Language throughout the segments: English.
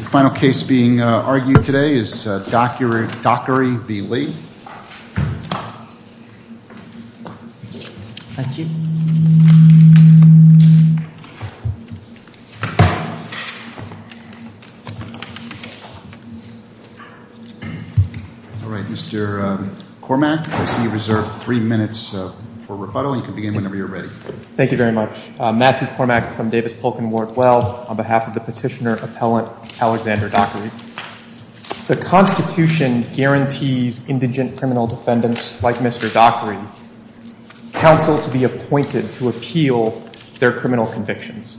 The final case being argued today is Dockery v. Lee. All right, Mr. Cormack, I see you reserve three minutes for rebuttal, and you can begin whenever you're ready. Thank you very much. Matthew Cormack from Davis Polk & Wardwell on behalf of the petitioner-appellant Alexander Dockery. The Constitution guarantees indigent criminal defendants like Mr. Dockery counsel to be appointed to appeal their criminal convictions.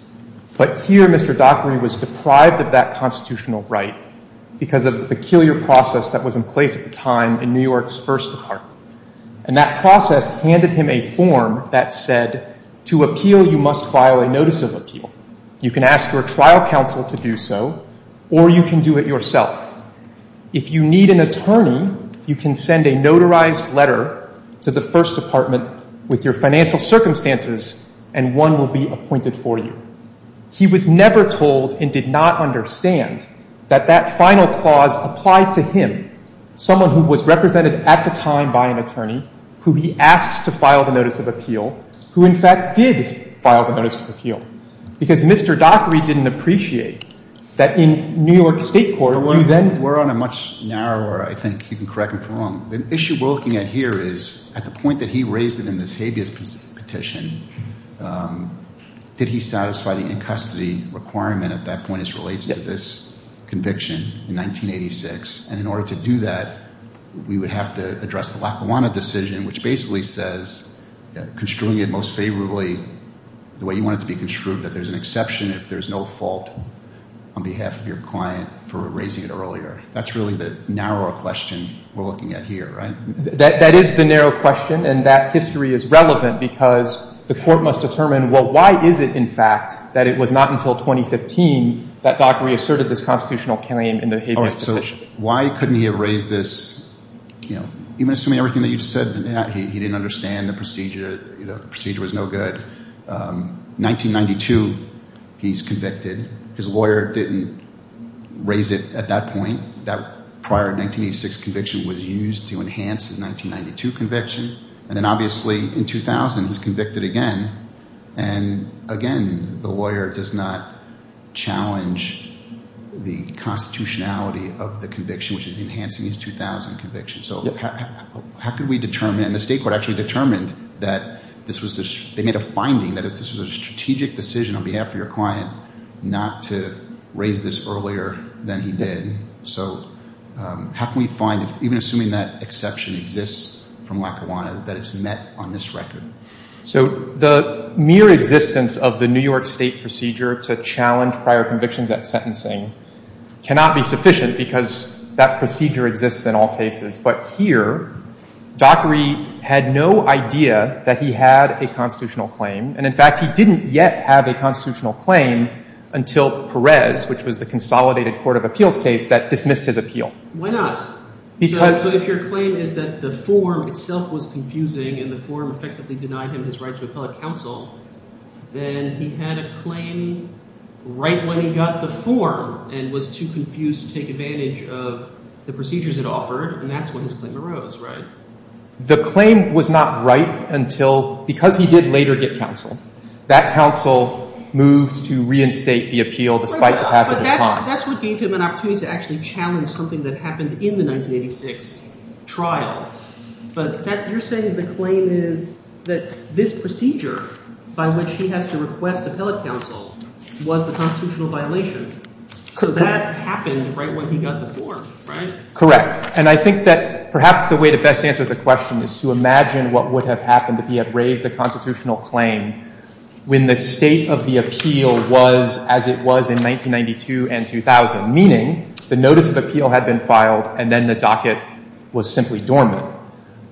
But here Mr. Dockery was deprived of that constitutional right because of the peculiar process that was in place at the time in New York's first department. And that process handed him a form that said, to appeal you must file a notice of appeal. You can ask your trial counsel to do so, or you can do it yourself. If you need an attorney, you can send a notarized letter to the first department with your financial circumstances and one will be appointed for you. He was never told and did not understand that that final clause applied to him, someone who was represented at the time by an attorney, who he asked to file the notice of appeal, who in fact did file the notice of appeal. Because Mr. Dockery didn't appreciate that in New York State court, you then were on a much narrower, I think you can correct me if I'm wrong, the issue we're looking at here is at the point that he raised it in this habeas petition, did he satisfy the in-custody requirement at that point as relates to this conviction in 1986? And in order to do that, we would have to address the Lackawanna decision, which basically says construing it most favorably the way you want it to be construed, that there's an exception if there's no fault on behalf of your client for raising it earlier. That's really the narrower question we're looking at here, right? That is the narrow question and that history is relevant because the court must determine, well, why is it in fact that it was not until 2015 that Dockery asserted this constitutional claim in the habeas petition? All right. So why couldn't he have raised this, you know, even assuming everything that you just said that he didn't understand the procedure, the procedure was no good, 1992 he's convicted, his lawyer didn't raise it at that point, that prior 1986 conviction was used to enhance his 1992 conviction, and then obviously in 2000 he's convicted again, and again, the constitutionality of the conviction, which is enhancing his 2000 conviction. So how could we determine, and the state court actually determined that this was, they made a finding that if this was a strategic decision on behalf of your client not to raise this earlier than he did, so how can we find, even assuming that exception exists from Lackawanna, that it's met on this record? So the mere existence of the New York State procedure to challenge prior convictions at cannot be sufficient, because that procedure exists in all cases, but here Dockery had no idea that he had a constitutional claim, and in fact he didn't yet have a constitutional claim until Perez, which was the consolidated court of appeals case, that dismissed his appeal. Why not? So if your claim is that the form itself was confusing and the form effectively denied him his right to appellate counsel, then he had a claim right when he got the form and was too confused to take advantage of the procedures it offered, and that's when his claim arose, right? The claim was not right until, because he did later get counsel, that counsel moved to reinstate the appeal despite the passage of time. But that's what gave him an opportunity to actually challenge something that happened in the 1986 trial, but that, you're saying the claim is that this procedure by which he has to request appellate counsel was the constitutional violation. So that happened right when he got the form, right? Correct. And I think that perhaps the way to best answer the question is to imagine what would have happened if he had raised a constitutional claim when the state of the appeal was as it was in 1992 and 2000, meaning the notice of appeal had been filed and then the docket was simply dormant.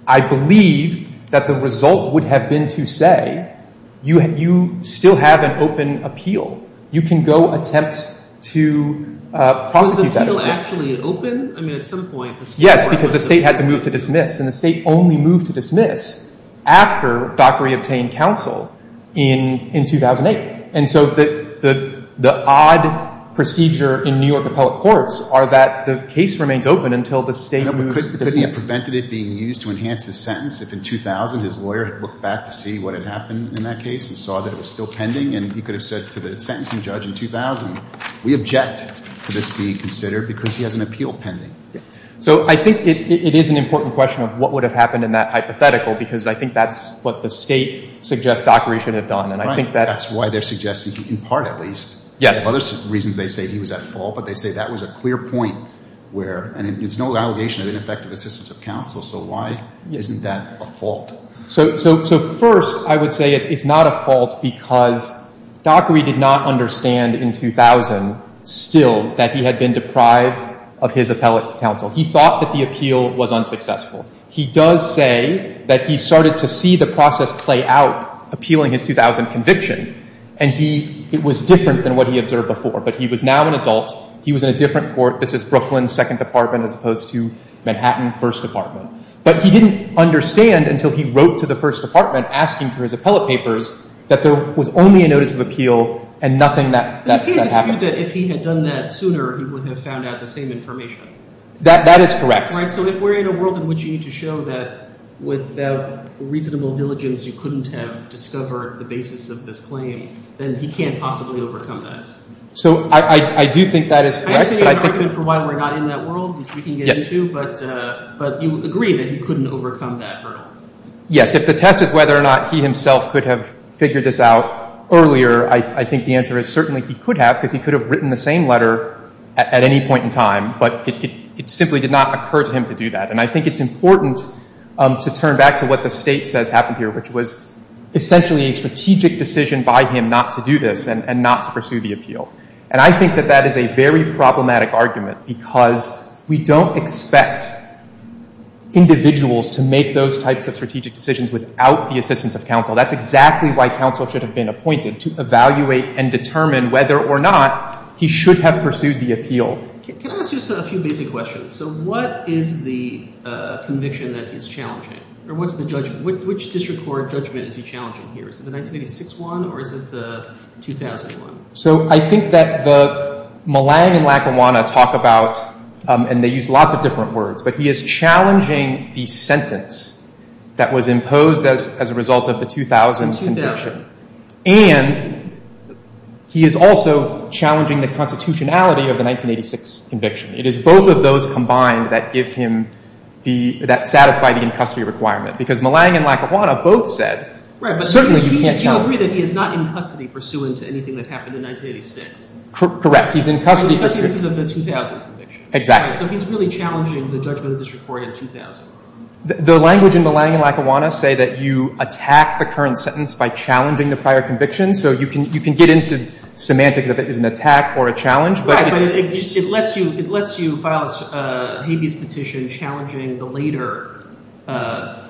I believe that the result would have been to say, you still have an open appeal. You can go attempt to prosecute that appeal. Was the appeal actually open? I mean, at some point, the state would have to move to dismiss. Yes, because the state had to move to dismiss, and the state only moved to dismiss after Dockery obtained counsel in 2008. And so the odd procedure in New York appellate courts are that the case remains open until the state moves to dismiss. Could he have prevented it being used to enhance his sentence if in 2000 his lawyer had looked back to see what had happened in that case and saw that it was still pending and he could have said to the sentencing judge in 2000, we object to this being considered because he has an appeal pending. So I think it is an important question of what would have happened in that hypothetical because I think that's what the state suggests Dockery should have done. And I think that's why they're suggesting, in part at least, there are other reasons they say he was at fault, but they say that was a clear point where, and it's no allegation So first, I would say it's not a fault because Dockery did not understand in 2000 still that he had been deprived of his appellate counsel. He thought that the appeal was unsuccessful. He does say that he started to see the process play out appealing his 2000 conviction, and he, it was different than what he observed before, but he was now an adult. He was in a different court. This is Brooklyn, Second Department, as opposed to Manhattan, First Department. But he didn't understand until he wrote to the First Department asking for his appellate papers that there was only a notice of appeal and nothing that happened. But you can't dispute that if he had done that sooner, he would have found out the same information. That is correct. Right, so if we're in a world in which you need to show that without reasonable diligence, you couldn't have discovered the basis of this claim, then he can't possibly overcome that. So I do think that is correct, but I think that I understand your argument for why we're not in that world, which we can get into, but you would agree that he couldn't overcome that hurdle. Yes. If the test is whether or not he himself could have figured this out earlier, I think the answer is certainly he could have, because he could have written the same letter at any point in time, but it simply did not occur to him to do that. And I think it's important to turn back to what the State says happened here, which was essentially a strategic decision by him not to do this and not to pursue the appeal. And I think that that is a very problematic argument, because we don't expect individuals to make those types of strategic decisions without the assistance of counsel. That's exactly why counsel should have been appointed, to evaluate and determine whether or not he should have pursued the appeal. Can I ask just a few basic questions? So what is the conviction that is challenging, or what's the judgment? Which district court judgment is he challenging here? Is it the 1986 one, or is it the 2001? So I think that the Malang and Lackawanna talk about, and they use lots of different words, but he is challenging the sentence that was imposed as a result of the 2000 conviction. And he is also challenging the constitutionality of the 1986 conviction. It is both of those combined that give him the, that satisfy the in-custody requirement, because Malang and Lackawanna both said, certainly you can't challenge. Tell me that he is not in custody pursuant to anything that happened in 1986. Correct. He's in custody because of the 2000 conviction. Exactly. So he's really challenging the judgment of the district court in 2000. The language in Malang and Lackawanna say that you attack the current sentence by challenging the prior conviction. So you can get into semantics of it as an attack or a challenge. Right, but it lets you file a habeas petition challenging the later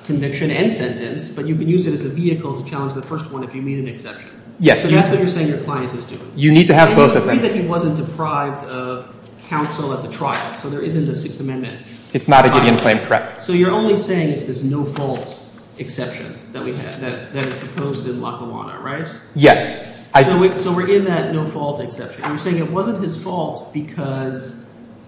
conviction and sentence, but you can use it as a vehicle to challenge the first one if you meet an exception. Yes. So that's what you're saying your client is doing. You need to have both of them. And you agree that he wasn't deprived of counsel at the trial, so there isn't a Sixth Amendment. It's not a Gideon claim, correct. So you're only saying it's this no-fault exception that we have, that is proposed in Lackawanna, right? Yes. So we're in that no-fault exception. You're saying it wasn't his fault because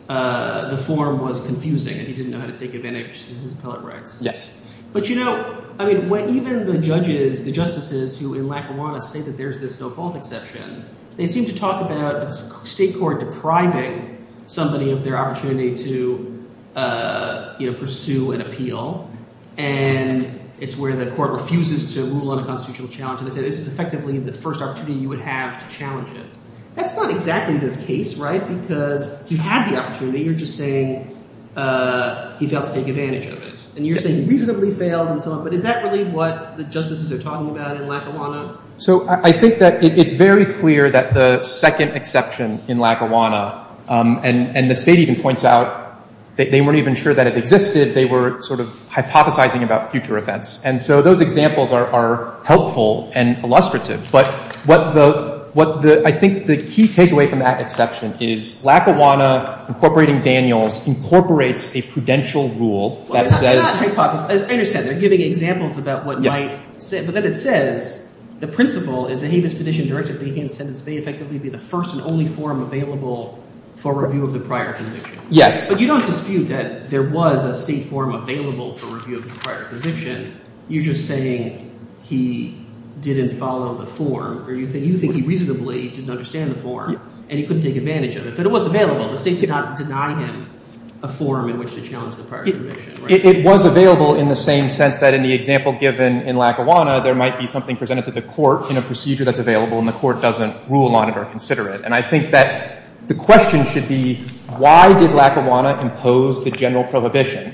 the form was confusing and he didn't know how to take advantage of his appellate rights. Yes. But you know, I mean, even the judges, the justices who in Lackawanna say that there's this no-fault exception, they seem to talk about a state court depriving somebody of their opportunity to pursue an appeal. And it's where the court refuses to rule on a constitutional challenge. And they say this is effectively the first opportunity you would have to challenge it. That's not exactly this case, right, because you had the opportunity. You're just saying he failed to take advantage of it. And you're saying he reasonably failed and so on. But is that really what the justices are talking about in Lackawanna? So I think that it's very clear that the second exception in Lackawanna, and the State even points out that they weren't even sure that it existed. They were sort of hypothesizing about future events. And so those examples are helpful and illustrative. But what the, I think the key takeaway from that exception is Lackawanna incorporating Daniels incorporates a prudential rule that says. I understand, they're giving examples about what might, but then it says, the principle is a habeas petition directed against sentence may effectively be the first and only form available for review of the prior conviction. Yes. But you don't dispute that there was a state form available for review of the prior conviction. You're just saying he didn't follow the form or you think he reasonably didn't understand the form and he couldn't take advantage of it. But it was available. The state did not deny him a form in which to challenge the prior conviction, right? It was available in the same sense that in the example given in Lackawanna, there might be something presented to the court in a procedure that's available and the court doesn't rule on it or consider it. And I think that the question should be why did Lackawanna impose the general prohibition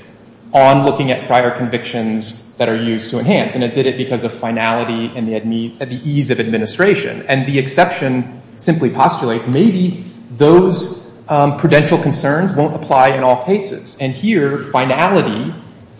on looking at prior convictions that are used to enhance? And it did it because of finality and the ease of administration. And the exception simply postulates maybe those prudential concerns won't apply in all cases. And here, finality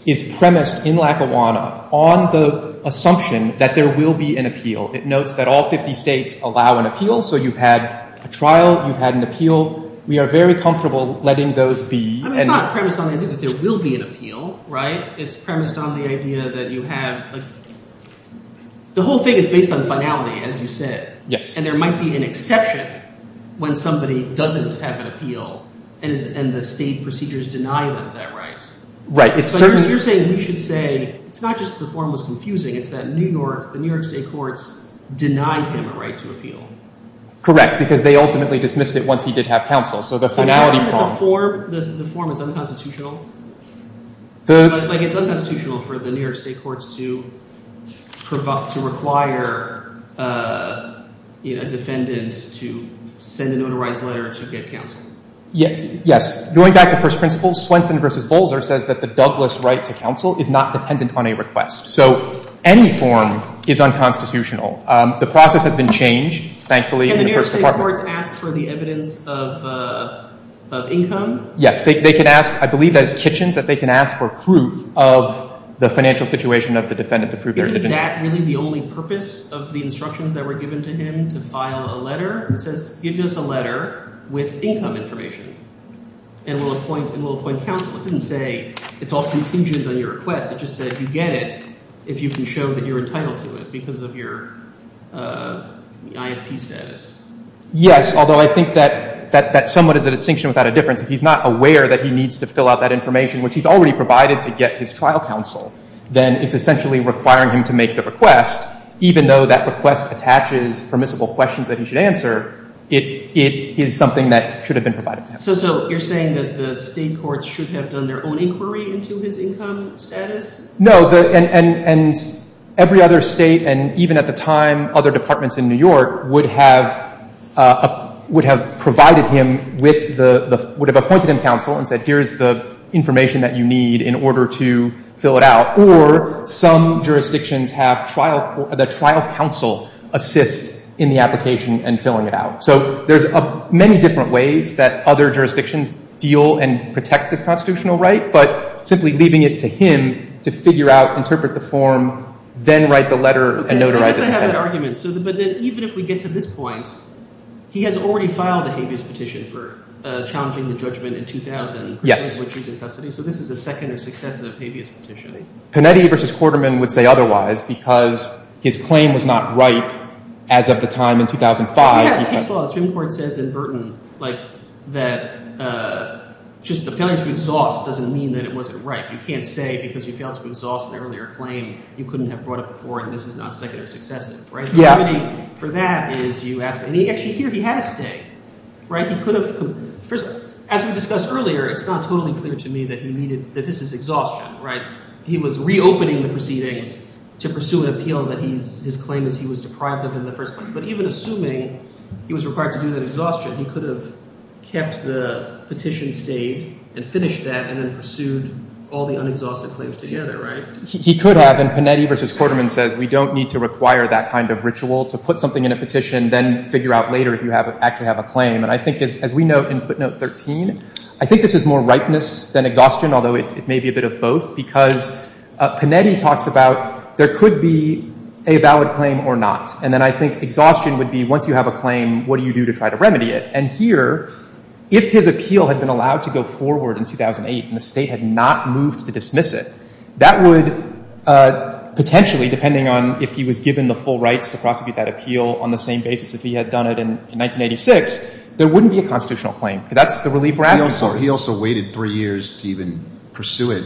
is premised in Lackawanna on the assumption that there will be an appeal. It notes that all 50 states allow an appeal. So you've had a trial. You've had an appeal. We are very comfortable letting those be. I mean, it's not premised on the idea that there will be an appeal, right? It's premised on the idea that you have, like, the whole thing is based on finality, as you said, and there might be an exception when somebody doesn't have an appeal and the state procedures deny them that right. But you're saying we should say it's not just the form was confusing. It's that New York, the New York state courts denied him a right to appeal. Correct, because they ultimately dismissed it once he did have counsel. So the finality problem. The form is unconstitutional? Like, it's unconstitutional for the New York state courts to require a defendant to send a notarized letter to get counsel. Yes. Going back to first principles, Swenson v. Bolzer says that the Douglas right to counsel is not dependent on a request. So any form is unconstitutional. The process has been changed, thankfully, in the first department. Can the New York state courts ask for the evidence of income? Yes, they could ask. I believe that it's Kitchens that they can ask for proof of the financial situation of the defendant to prove their existence. Isn't that really the only purpose of the instructions that were given to him, to file a letter that says, give us a letter with income information, and we'll appoint counsel? It didn't say it's all contingent on your request. It just said you get it if you can show that you're entitled to it because of your IFP status. Yes, although I think that somewhat is a distinction without a difference. If he's not aware that he needs to fill out that information, which he's already provided to get his trial counsel, then it's essentially requiring him to make the request, even though that request attaches permissible questions that he should answer, it is something that should have been provided to him. So you're saying that the state courts should have done their own inquiry into his income status? No, and every other state, and even at the time, other departments in New York, would have provided him with the, would have appointed him counsel and said, here's the information that you need in order to fill it out. Or some jurisdictions have trial, the trial counsel assist in the application and filling it out. So there's many different ways that other jurisdictions deal and protect this constitutional right, but simply leaving it to him to figure out, interpret the form, But even if we get to this point, he has already filed a habeas petition for challenging the judgment in 2000, which he's in custody, so this is the second or successive habeas petition. Panetti v. Quarterman would say otherwise because his claim was not ripe as of the time in 2005. We have case law. The Supreme Court says in Burton that just the failure to exhaust doesn't mean that it wasn't ripe. You can't say because you failed to exhaust an earlier claim, you couldn't have brought it before, and this is not second or successive, right? The remedy for that is you ask, and he actually here, he had a stay, right? He could have, as we discussed earlier, it's not totally clear to me that he needed, that this is exhaustion, right? He was reopening the proceedings to pursue an appeal that he's, his claim is he was deprived of in the first place. But even assuming he was required to do that exhaustion, he could have kept the petition stayed and finished that and then pursued all the unexhausted claims together, right? He could have, and Panetti v. Quarterman says we don't need to require that kind of ritual to put something in a petition, then figure out later if you have, actually have a claim. And I think as we note in footnote 13, I think this is more ripeness than exhaustion, although it may be a bit of both, because Panetti talks about there could be a valid claim or not. And then I think exhaustion would be once you have a claim, what do you do to try to remedy it? And here, if his appeal had been allowed to go forward in 2008 and the State had not moved to dismiss it, that would potentially, depending on if he was given the full rights to prosecute that appeal on the same basis if he had done it in 1986, there wouldn't be a constitutional claim. Because that's the relief we're asking for. He also waited three years to even pursue it.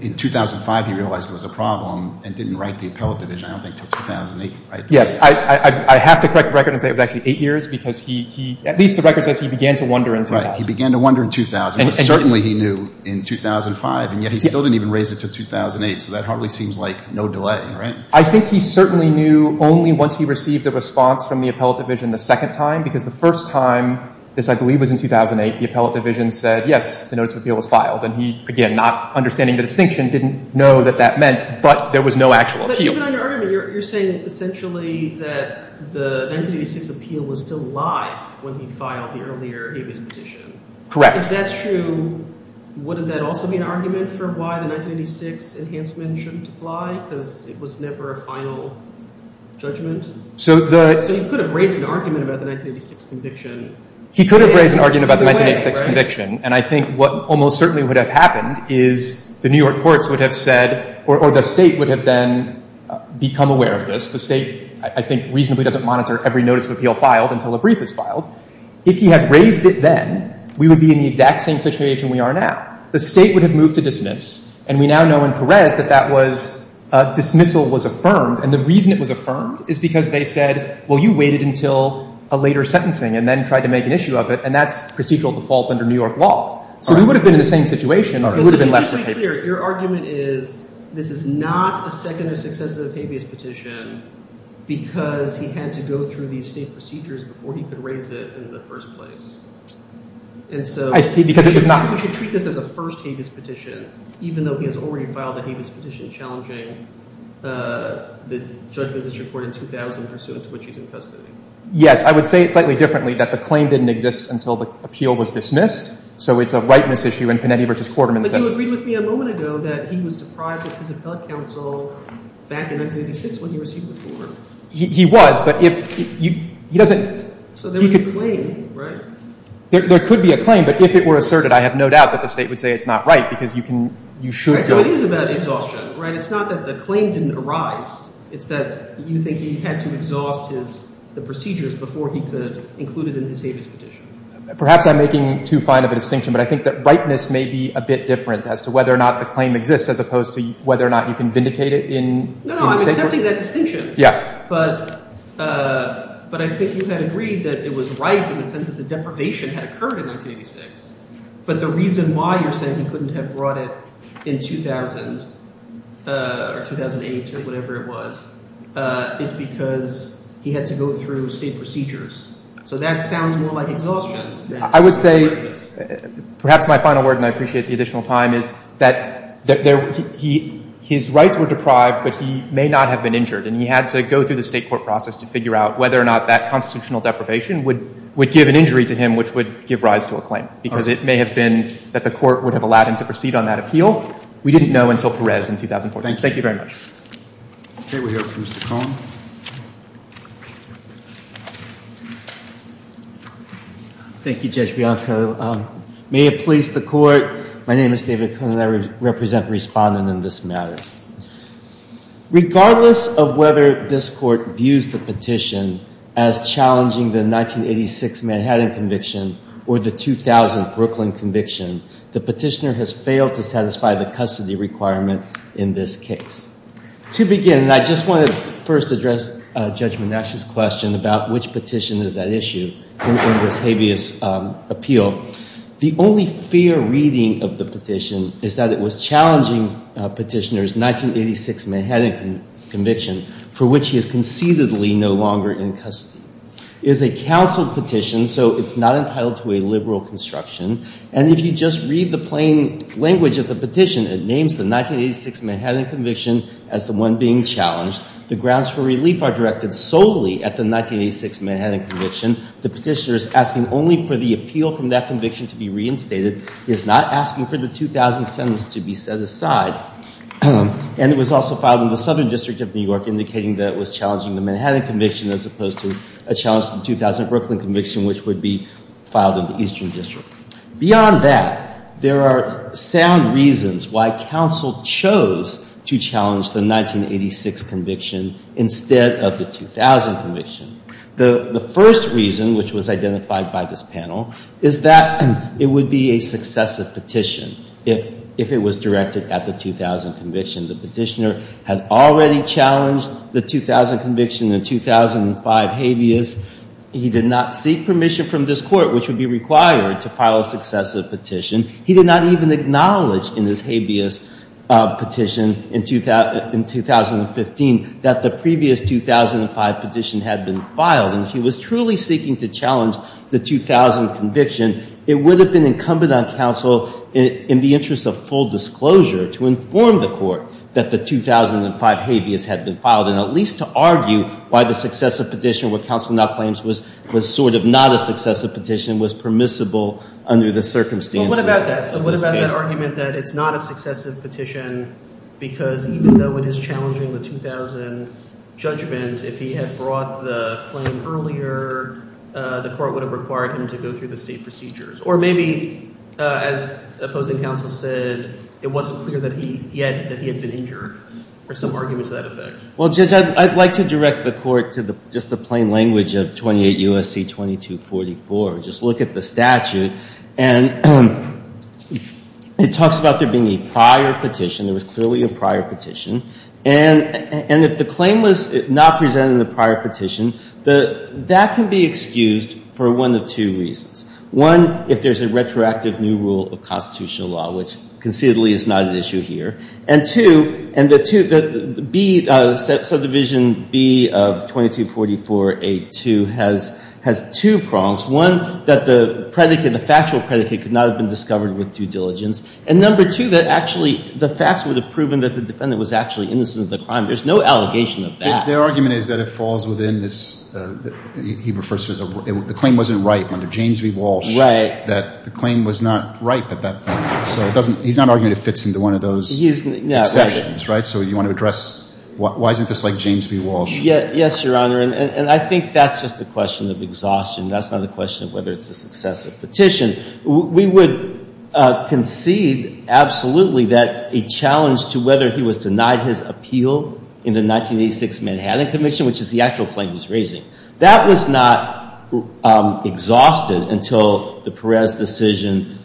In 2005, he realized there was a problem and didn't write the appellate division, I don't think, until 2008, right? Yes. I have to correct the record and say it was actually eight years, because he, at least the record says he began to wonder in 2000. Right. He began to wonder in 2000. And certainly he knew in 2005, and yet he still didn't even raise it to 2008, so that hardly seems like no delay, right? I think he certainly knew only once he received a response from the appellate division the second time, because the first time, this I believe was in 2008, the appellate division said, yes, the notice of appeal was filed. And he, again, not understanding the distinction, didn't know that that meant, but there was no actual appeal. But even under argument, you're saying essentially that the 1986 appeal was still live when he filed the earlier Avis petition. Correct. If that's true, wouldn't that also be an argument for why the 1986 enhancement shouldn't apply, because it was never a final judgment? So the— So he could have raised an argument about the 1986 conviction. He could have raised an argument about the 1986 conviction. And I think what almost certainly would have happened is the New York courts would have said, or the State would have then become aware of this. The State, I think, reasonably doesn't monitor every notice of appeal filed until a brief is filed. If he had raised it then, we would be in the exact same situation we are now. The State would have moved to dismiss. And we now know in Perez that that was—dismissal was affirmed. And the reason it was affirmed is because they said, well, you waited until a later sentencing and then tried to make an issue of it. And that's procedural default under New York law. So he would have been in the same situation, but he would have been left with Avis. So to be clear, your argument is this is not a second or successive Avis petition because he had to go through these state procedures before he could raise it in the first place. And so— Because it was not— You should treat this as a first Avis petition, even though he has already filed the Avis petition challenging the judgment of this court in 2000 pursuant to which he's in custody. Yes. I would say it slightly differently, that the claim didn't exist until the appeal was dismissed. So it's a rightness issue in Panetti v. Quarterman's sense. But you agreed with me a moment ago that he was deprived of his appellate counsel back in 1986 when he received the form. He was, but if you—he doesn't— So there was a claim, right? There could be a claim, but if it were asserted, I have no doubt that the State would say it's not right because you can—you should go— That's what it is about exhaustion, right? It's not that the claim didn't arise. It's that you think he had to exhaust his—the procedures before he could include it in his Avis petition. Perhaps I'm making too fine of a distinction, but I think that rightness may be a bit different as to whether or not the claim exists as opposed to whether or not you can vindicate it in— No, no. I'm accepting that distinction. Yeah. But I think you had agreed that it was right in the sense that the deprivation had occurred in 1986. But the reason why you're saying he couldn't have brought it in 2000 or 2008 or whatever it was is because he had to go through State procedures. So that sounds more like exhaustion than rightness. I would say—perhaps my final word, and I appreciate the additional time, is that there—he—his rights were deprived, but he may not have been injured. And he had to go through the State court process to figure out whether or not that constitutional deprivation would give an injury to him which would give rise to a claim. Because it may have been that the court would have allowed him to proceed on that appeal. We didn't know until Perez in 2014. Thank you very much. Okay. We have Mr. Cohn. Thank you, Judge Bianco. May it please the Court, my name is David Cohn, and I represent the respondent in this matter. Regardless of whether this Court views the petition as challenging the 1986 Manhattan conviction or the 2000 Brooklyn conviction, the petitioner has failed to satisfy the custody requirement in this case. To begin, I just want to first address Judge Monash's question about which petition is at issue in this habeas appeal. The only fair reading of the petition is that it was challenging petitioner's 1986 Manhattan conviction, for which he is conceitedly no longer in custody. It is a counseled petition, so it's not entitled to a liberal construction. And if you just read the plain language of the petition, it names the 1986 Manhattan conviction as the one being challenged. The grounds for relief are directed solely at the 1986 Manhattan conviction. The petitioner is asking only for the appeal from that conviction to be reinstated. He is not asking for the 2000 sentence to be set aside. And it was also filed in the Southern District of New York, indicating that it was challenging the Manhattan conviction as opposed to a challenge to the 2000 Brooklyn conviction, which would be filed in the Eastern District. Beyond that, there are sound reasons why counsel chose to challenge the 1986 conviction instead of the 2000 conviction. The first reason, which was identified by this panel, is that it would be a successive petition if it was directed at the 2000 conviction. The petitioner had already challenged the 2000 conviction in 2005 habeas. He did not seek permission from this court, which would be required to file a successive petition. He did not even acknowledge in his habeas petition in 2015 that the previous 2005 petition had been filed. And if he was truly seeking to challenge the 2000 conviction, it would have been incumbent on counsel, in the interest of full disclosure, to inform the court that the 2005 habeas had been filed, and at least to argue why the successive petition, what counsel now claims was sort of not a successive petition, was permissible under the circumstances. But what about that? So what about that argument that it's not a successive petition because even though it is challenging the 2000 judgment, if he had brought the claim earlier, the court would have required him to go through the state procedures? Or maybe, as opposing counsel said, it wasn't clear yet that he had been injured. Or some argument to that effect. Well, Judge, I'd like to direct the court to just the plain language of 28 U.S.C. 2244. Just look at the statute. And it talks about there being a prior petition. There was clearly a prior petition. And if the claim was not presented in the prior petition, that can be excused for one of two reasons. One, if there's a retroactive new rule of constitutional law, which conceivably is not an issue here. And two, subdivision B of 2244.8.2 has two prongs. One, that the predicate, the factual predicate, could not have been discovered with due diligence. And number two, that actually the facts would have proven that the defendant was actually innocent of the crime. There's no allegation of that. Their argument is that it falls within this, he refers to as, the claim wasn't ripe under James v. Walsh. Right. That the claim was not ripe at that point. So he's not arguing it fits into one of those. Exceptions, right? So you want to address, why isn't this like James v. Walsh? Yes, Your Honor. And I think that's just a question of exhaustion. That's not a question of whether it's a successive petition. We would concede, absolutely, that a challenge to whether he was denied his appeal in the 1986 Manhattan Commission, which is the actual claim he's raising. That was not exhausted until the Perez decision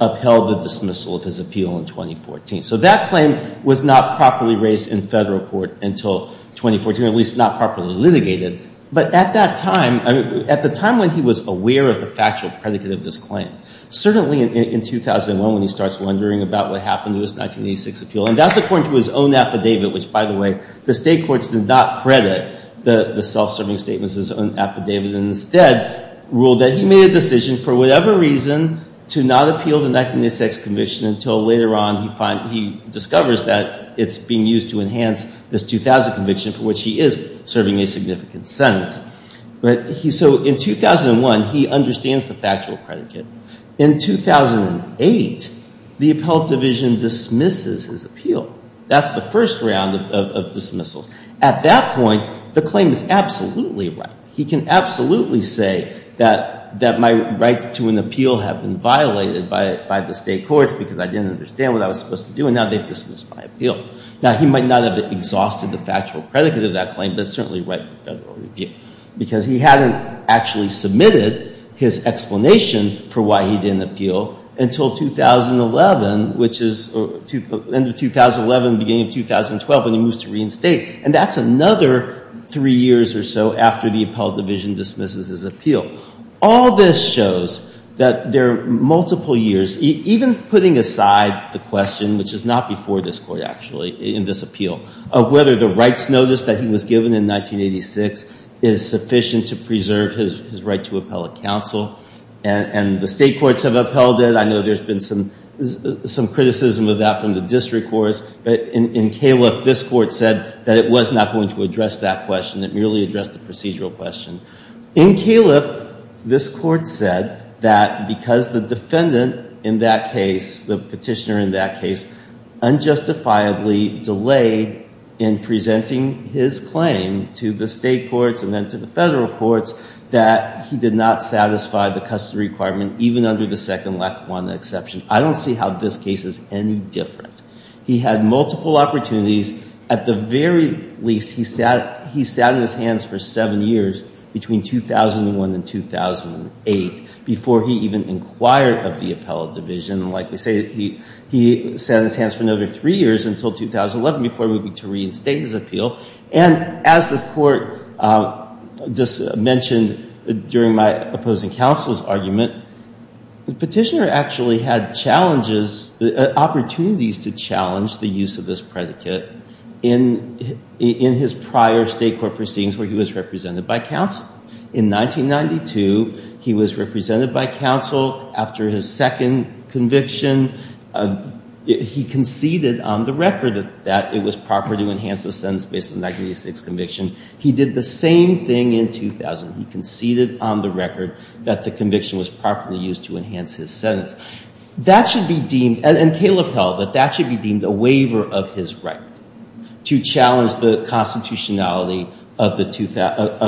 upheld the dismissal of his appeal in 2014. So that claim was not properly raised in federal court until 2014, or at least not properly litigated. But at that time, at the time when he was aware of the factual predicate of this claim, certainly in 2001, when he starts wondering about what happened to his 1986 appeal. And that's according to his own affidavit, which, by the way, the state courts did not credit the self-serving statement as his own affidavit. And instead, ruled that he made a decision for whatever reason to not appeal the 1986 commission until later on he discovers that it's being used to enhance this 2000 conviction, for which he is serving a significant sentence. So in 2001, he understands the factual predicate. In 2008, the appellate division dismisses his appeal. That's the first round of dismissals. At that point, the claim is absolutely right. He can absolutely say that my rights to an appeal have been violated by the state courts because I didn't understand what I was supposed to do, and now they've dismissed my appeal. Now, he might not have exhausted the factual predicate of that claim, but it's certainly right for federal review. Because he hadn't actually submitted his explanation for why he didn't appeal until 2011, which is the end of 2011, beginning of 2012, when he moves to reinstate. And that's another three years or so after the appellate division dismisses his appeal. All this shows that there are multiple years, even putting aside the question, which is not before this court, actually, in this appeal, of whether the rights notice that he was given in 1986 is sufficient to preserve his right to appellate counsel. And the state courts have upheld it. I know there's been some criticism of that from the district courts. But in Califf, this court said that it was not going to address that question. It merely addressed the procedural question. In Califf, this court said that because the defendant in that case, the petitioner in that case, unjustifiably delayed in presenting his claim to the state courts and then to the federal courts, that he did not satisfy the custody requirement, even under the second Lackawanna exception. I don't see how this case is any different. He had multiple opportunities. At the very least, he sat on his hands for seven years, between 2001 and 2008, before he even inquired of the appellate division. Like we say, he sat on his hands for another three years, until 2011, before moving to reinstate his appeal. And as this court just mentioned during my opposing counsel's argument, the petitioner actually had opportunities to challenge the use of this predicate in his prior state court proceedings, where he was represented by counsel. In 1992, he was represented by counsel. After his second conviction, he conceded on the record that it was proper to enhance the sentence based on the 1986 conviction. He did the same thing in 2000. He conceded on the record that the conviction was properly used to enhance his sentence. That should be deemed, and Caleb held that that should be deemed a waiver of his right to challenge the constitutionality of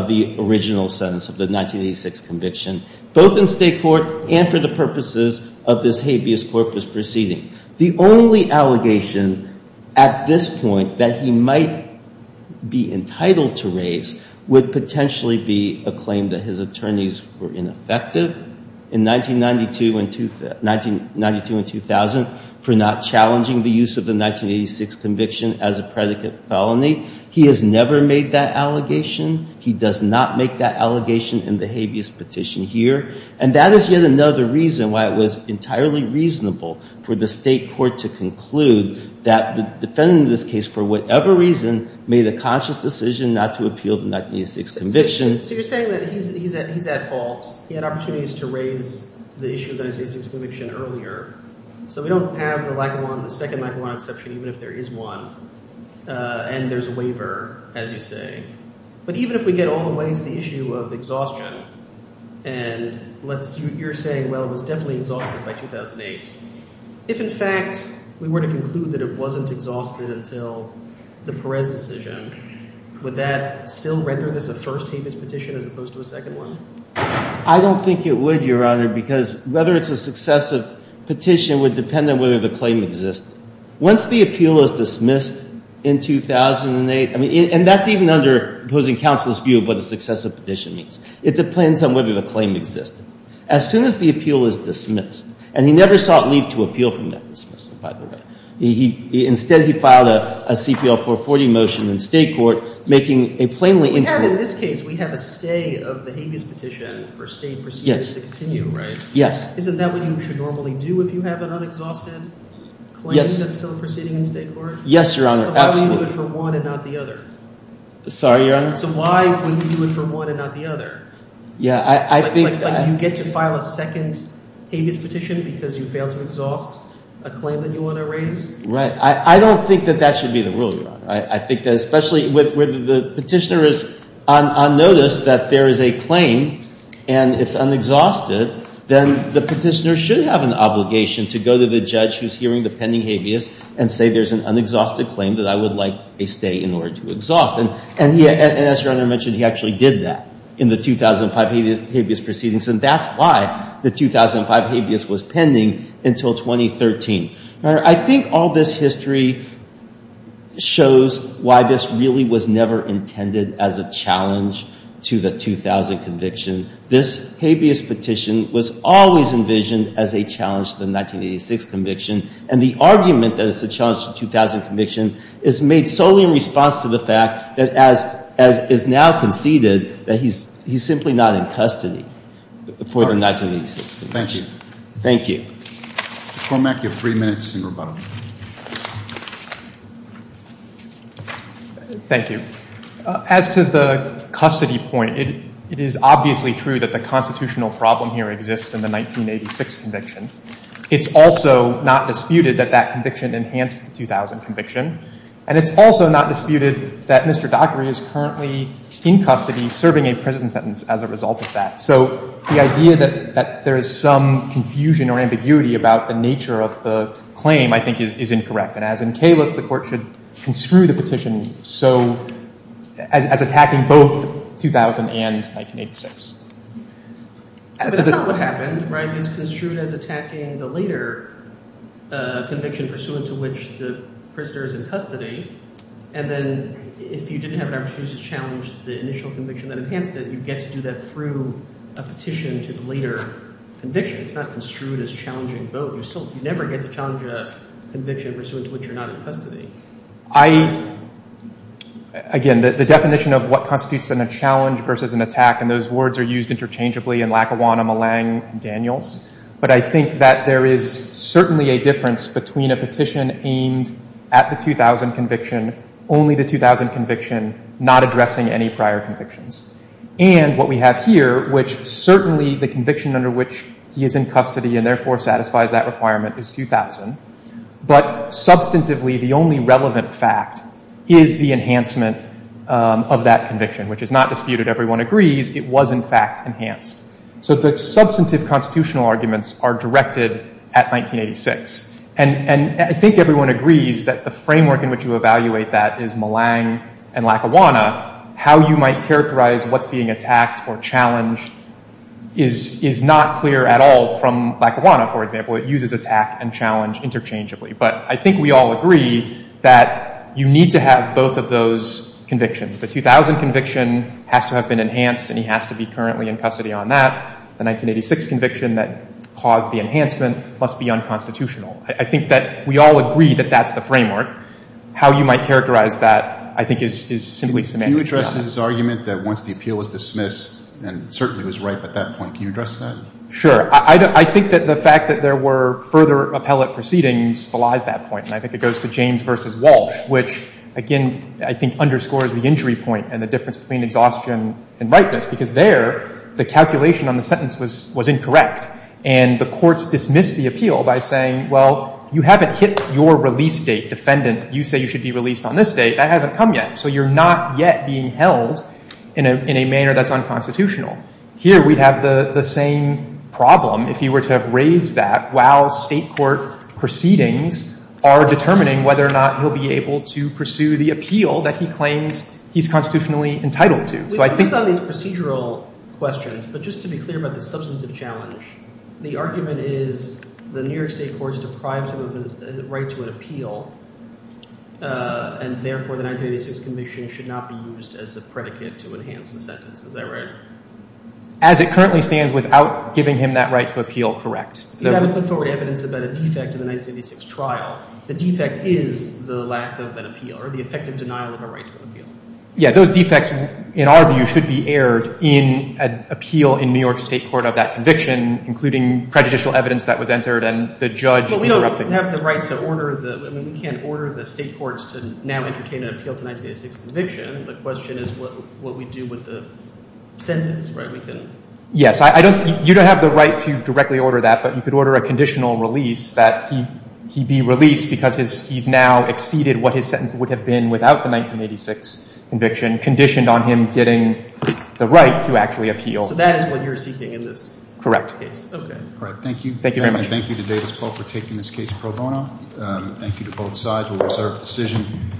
the original sentence of the 1986 conviction, both in state court and for the purposes of this habeas corpus proceeding. The only allegation at this point that he might be entitled to raise would potentially be a claim that his attorneys were ineffective in 1992 and 2000 for not challenging the use of the 1986 conviction as a predicate felony. He has never made that allegation. He does not make that allegation in the habeas petition here. And that is yet another reason why it was entirely reasonable for the state court to conclude that the defendant in this case, for whatever reason, made a conscious decision not to appeal the 1986 conviction. So you're saying that he's at fault. He had opportunities to raise the issue of the 1986 conviction earlier. So we don't have the second Lackawanna exception, even if there is one, and there's a waiver, as you say. But even if we get all the way to the issue of exhaustion, and you're saying, well, it was definitely exhausted by 2008. If, in fact, we were to conclude that it wasn't exhausted until the Perez decision, would that still render this a first habeas petition as opposed to a second one? I don't think it would, Your Honor, because whether it's a successive petition would depend on whether the claim exists. Once the appeal is dismissed in 2008, I mean, and that's even under opposing counsel's view of what a successive petition means. It depends on whether the claim exists. As soon as the appeal is dismissed, and he never sought leave to appeal from that dismissal, by the way. Instead, he filed a CPL 440 motion in state court, making a plainly incorrect. We have, in this case, we have a stay of the habeas petition for state proceedings to continue, right? Yes. Isn't that what you should normally do if you have an unexhausted claim that's still proceeding in state court? Yes, Your Honor, absolutely. So why would you do it for one and not the other? Sorry, Your Honor? So why would you do it for one and not the other? Yeah, I think... Like you get to file a second habeas petition because you failed to exhaust a claim that you want to raise? Right. I don't think that that should be the rule, Your Honor. I think that especially when the petitioner is on notice that there is a claim and it's unexhausted, then the petitioner should have an obligation to go to the judge who's hearing the pending habeas and say there's an unexhausted claim that I would like a stay in order to exhaust. And as Your Honor mentioned, he actually did that in the 2005 habeas proceedings. And that's why the 2005 habeas was pending until 2013. I think all this history shows why this really was never intended as a challenge to the 2000 conviction. This habeas petition was always envisioned as a challenge to the 1986 conviction. And the argument that it's a challenge to the 2000 conviction is made solely in response to the fact that as is now conceded, that he's simply not in custody for the 1986 conviction. Thank you. Thank you. Cormack, you have three minutes and rebuttal. Thank you. As to the custody point, it is obviously true that the constitutional problem here exists in the 1986 conviction. It's also not disputed that that conviction enhanced the 2000 conviction. And it's also not disputed that Mr. Dockery is currently in custody serving a prison sentence as a result of that. So the idea that there is some confusion or ambiguity about the nature of the claim, I think, is incorrect. And as in Califf, the court should construe the petition as attacking both 2000 and 1986. But that's not what happened, right? It's construed as attacking the later conviction pursuant to which the prisoner is in custody. And then if you didn't have an arbitration to challenge the initial conviction that enhanced it, you get to do that through a petition to the later conviction. It's not construed as challenging both. You never get to challenge a conviction pursuant to which you're not in custody. Again, the definition of what constitutes a challenge versus an attack, and those words are used interchangeably in Lackawanna, Millang, and Daniels. But I think that there is certainly a difference between a petition aimed at the 2000 conviction, only the 2000 conviction, not addressing any prior convictions, and what we have here, which certainly the conviction under which he is in custody and therefore satisfies that requirement is 2000. But substantively, the only relevant fact is the enhancement of that conviction, which is not disputed. Everyone agrees. It was, in fact, enhanced. So the substantive constitutional arguments are directed at 1986. And I think everyone agrees that the framework in which you evaluate that is Millang and Lackawanna. How you might characterize what's being attacked or challenged is not clear at all from Lackawanna, for example. It uses attack and challenge interchangeably. But I think we all agree that you need to have both of those convictions. The 2000 conviction has to have been enhanced, and he has to be currently in custody on that. The 1986 conviction that caused the enhancement must be unconstitutional. I think that we all agree that that's the framework. How you might characterize that, I think, is simply semantically not. Can you address his argument that once the appeal was dismissed, and certainly it was ripe at that point, can you address that? Sure. I think that the fact that there were further appellate proceedings belies that point. I think it goes to James v. Walsh, which, again, I think underscores the injury point and the difference between exhaustion and ripeness. Because there, the calculation on the sentence was incorrect. And the courts dismissed the appeal by saying, well, you haven't hit your release date. Defendant, you say you should be released on this date. That hasn't come yet. So you're not yet being held in a manner that's unconstitutional. Here we have the same problem. If he were to have raised that while state court proceedings are determining whether or not he'll be able to pursue the appeal that he claims he's constitutionally entitled to. Which, based on these procedural questions, but just to be clear about the substantive challenge, the argument is the New York state court is deprived of the right to an appeal. And therefore, the 1986 conviction should not be used as a predicate to enhance the sentence. Is that right? As it currently stands, without giving him that right to appeal, correct. You haven't put forward evidence about a defect in the 1986 trial. The defect is the lack of an appeal, or the effective denial of a right to an appeal. Yeah, those defects, in our view, should be aired in an appeal in New York state court of that conviction, including prejudicial evidence that was entered and the judge interrupted. But we don't have the right to order the, I mean, we can't order the state courts to now entertain an appeal to a 1986 conviction. The question is what we do with the sentence, right? We couldn't. Yes, you don't have the right to directly order that, but you could order a conditional release that he be released because he's now exceeded what his sentence would have been without the 1986 conviction, conditioned on him getting the right to actually appeal. So that is what you're seeking in this? Correct case. Okay. All right. Thank you. Thank you very much. Thank you to Davis Paul for taking this case pro bono. Thank you to both sides. We'll reserve the decision.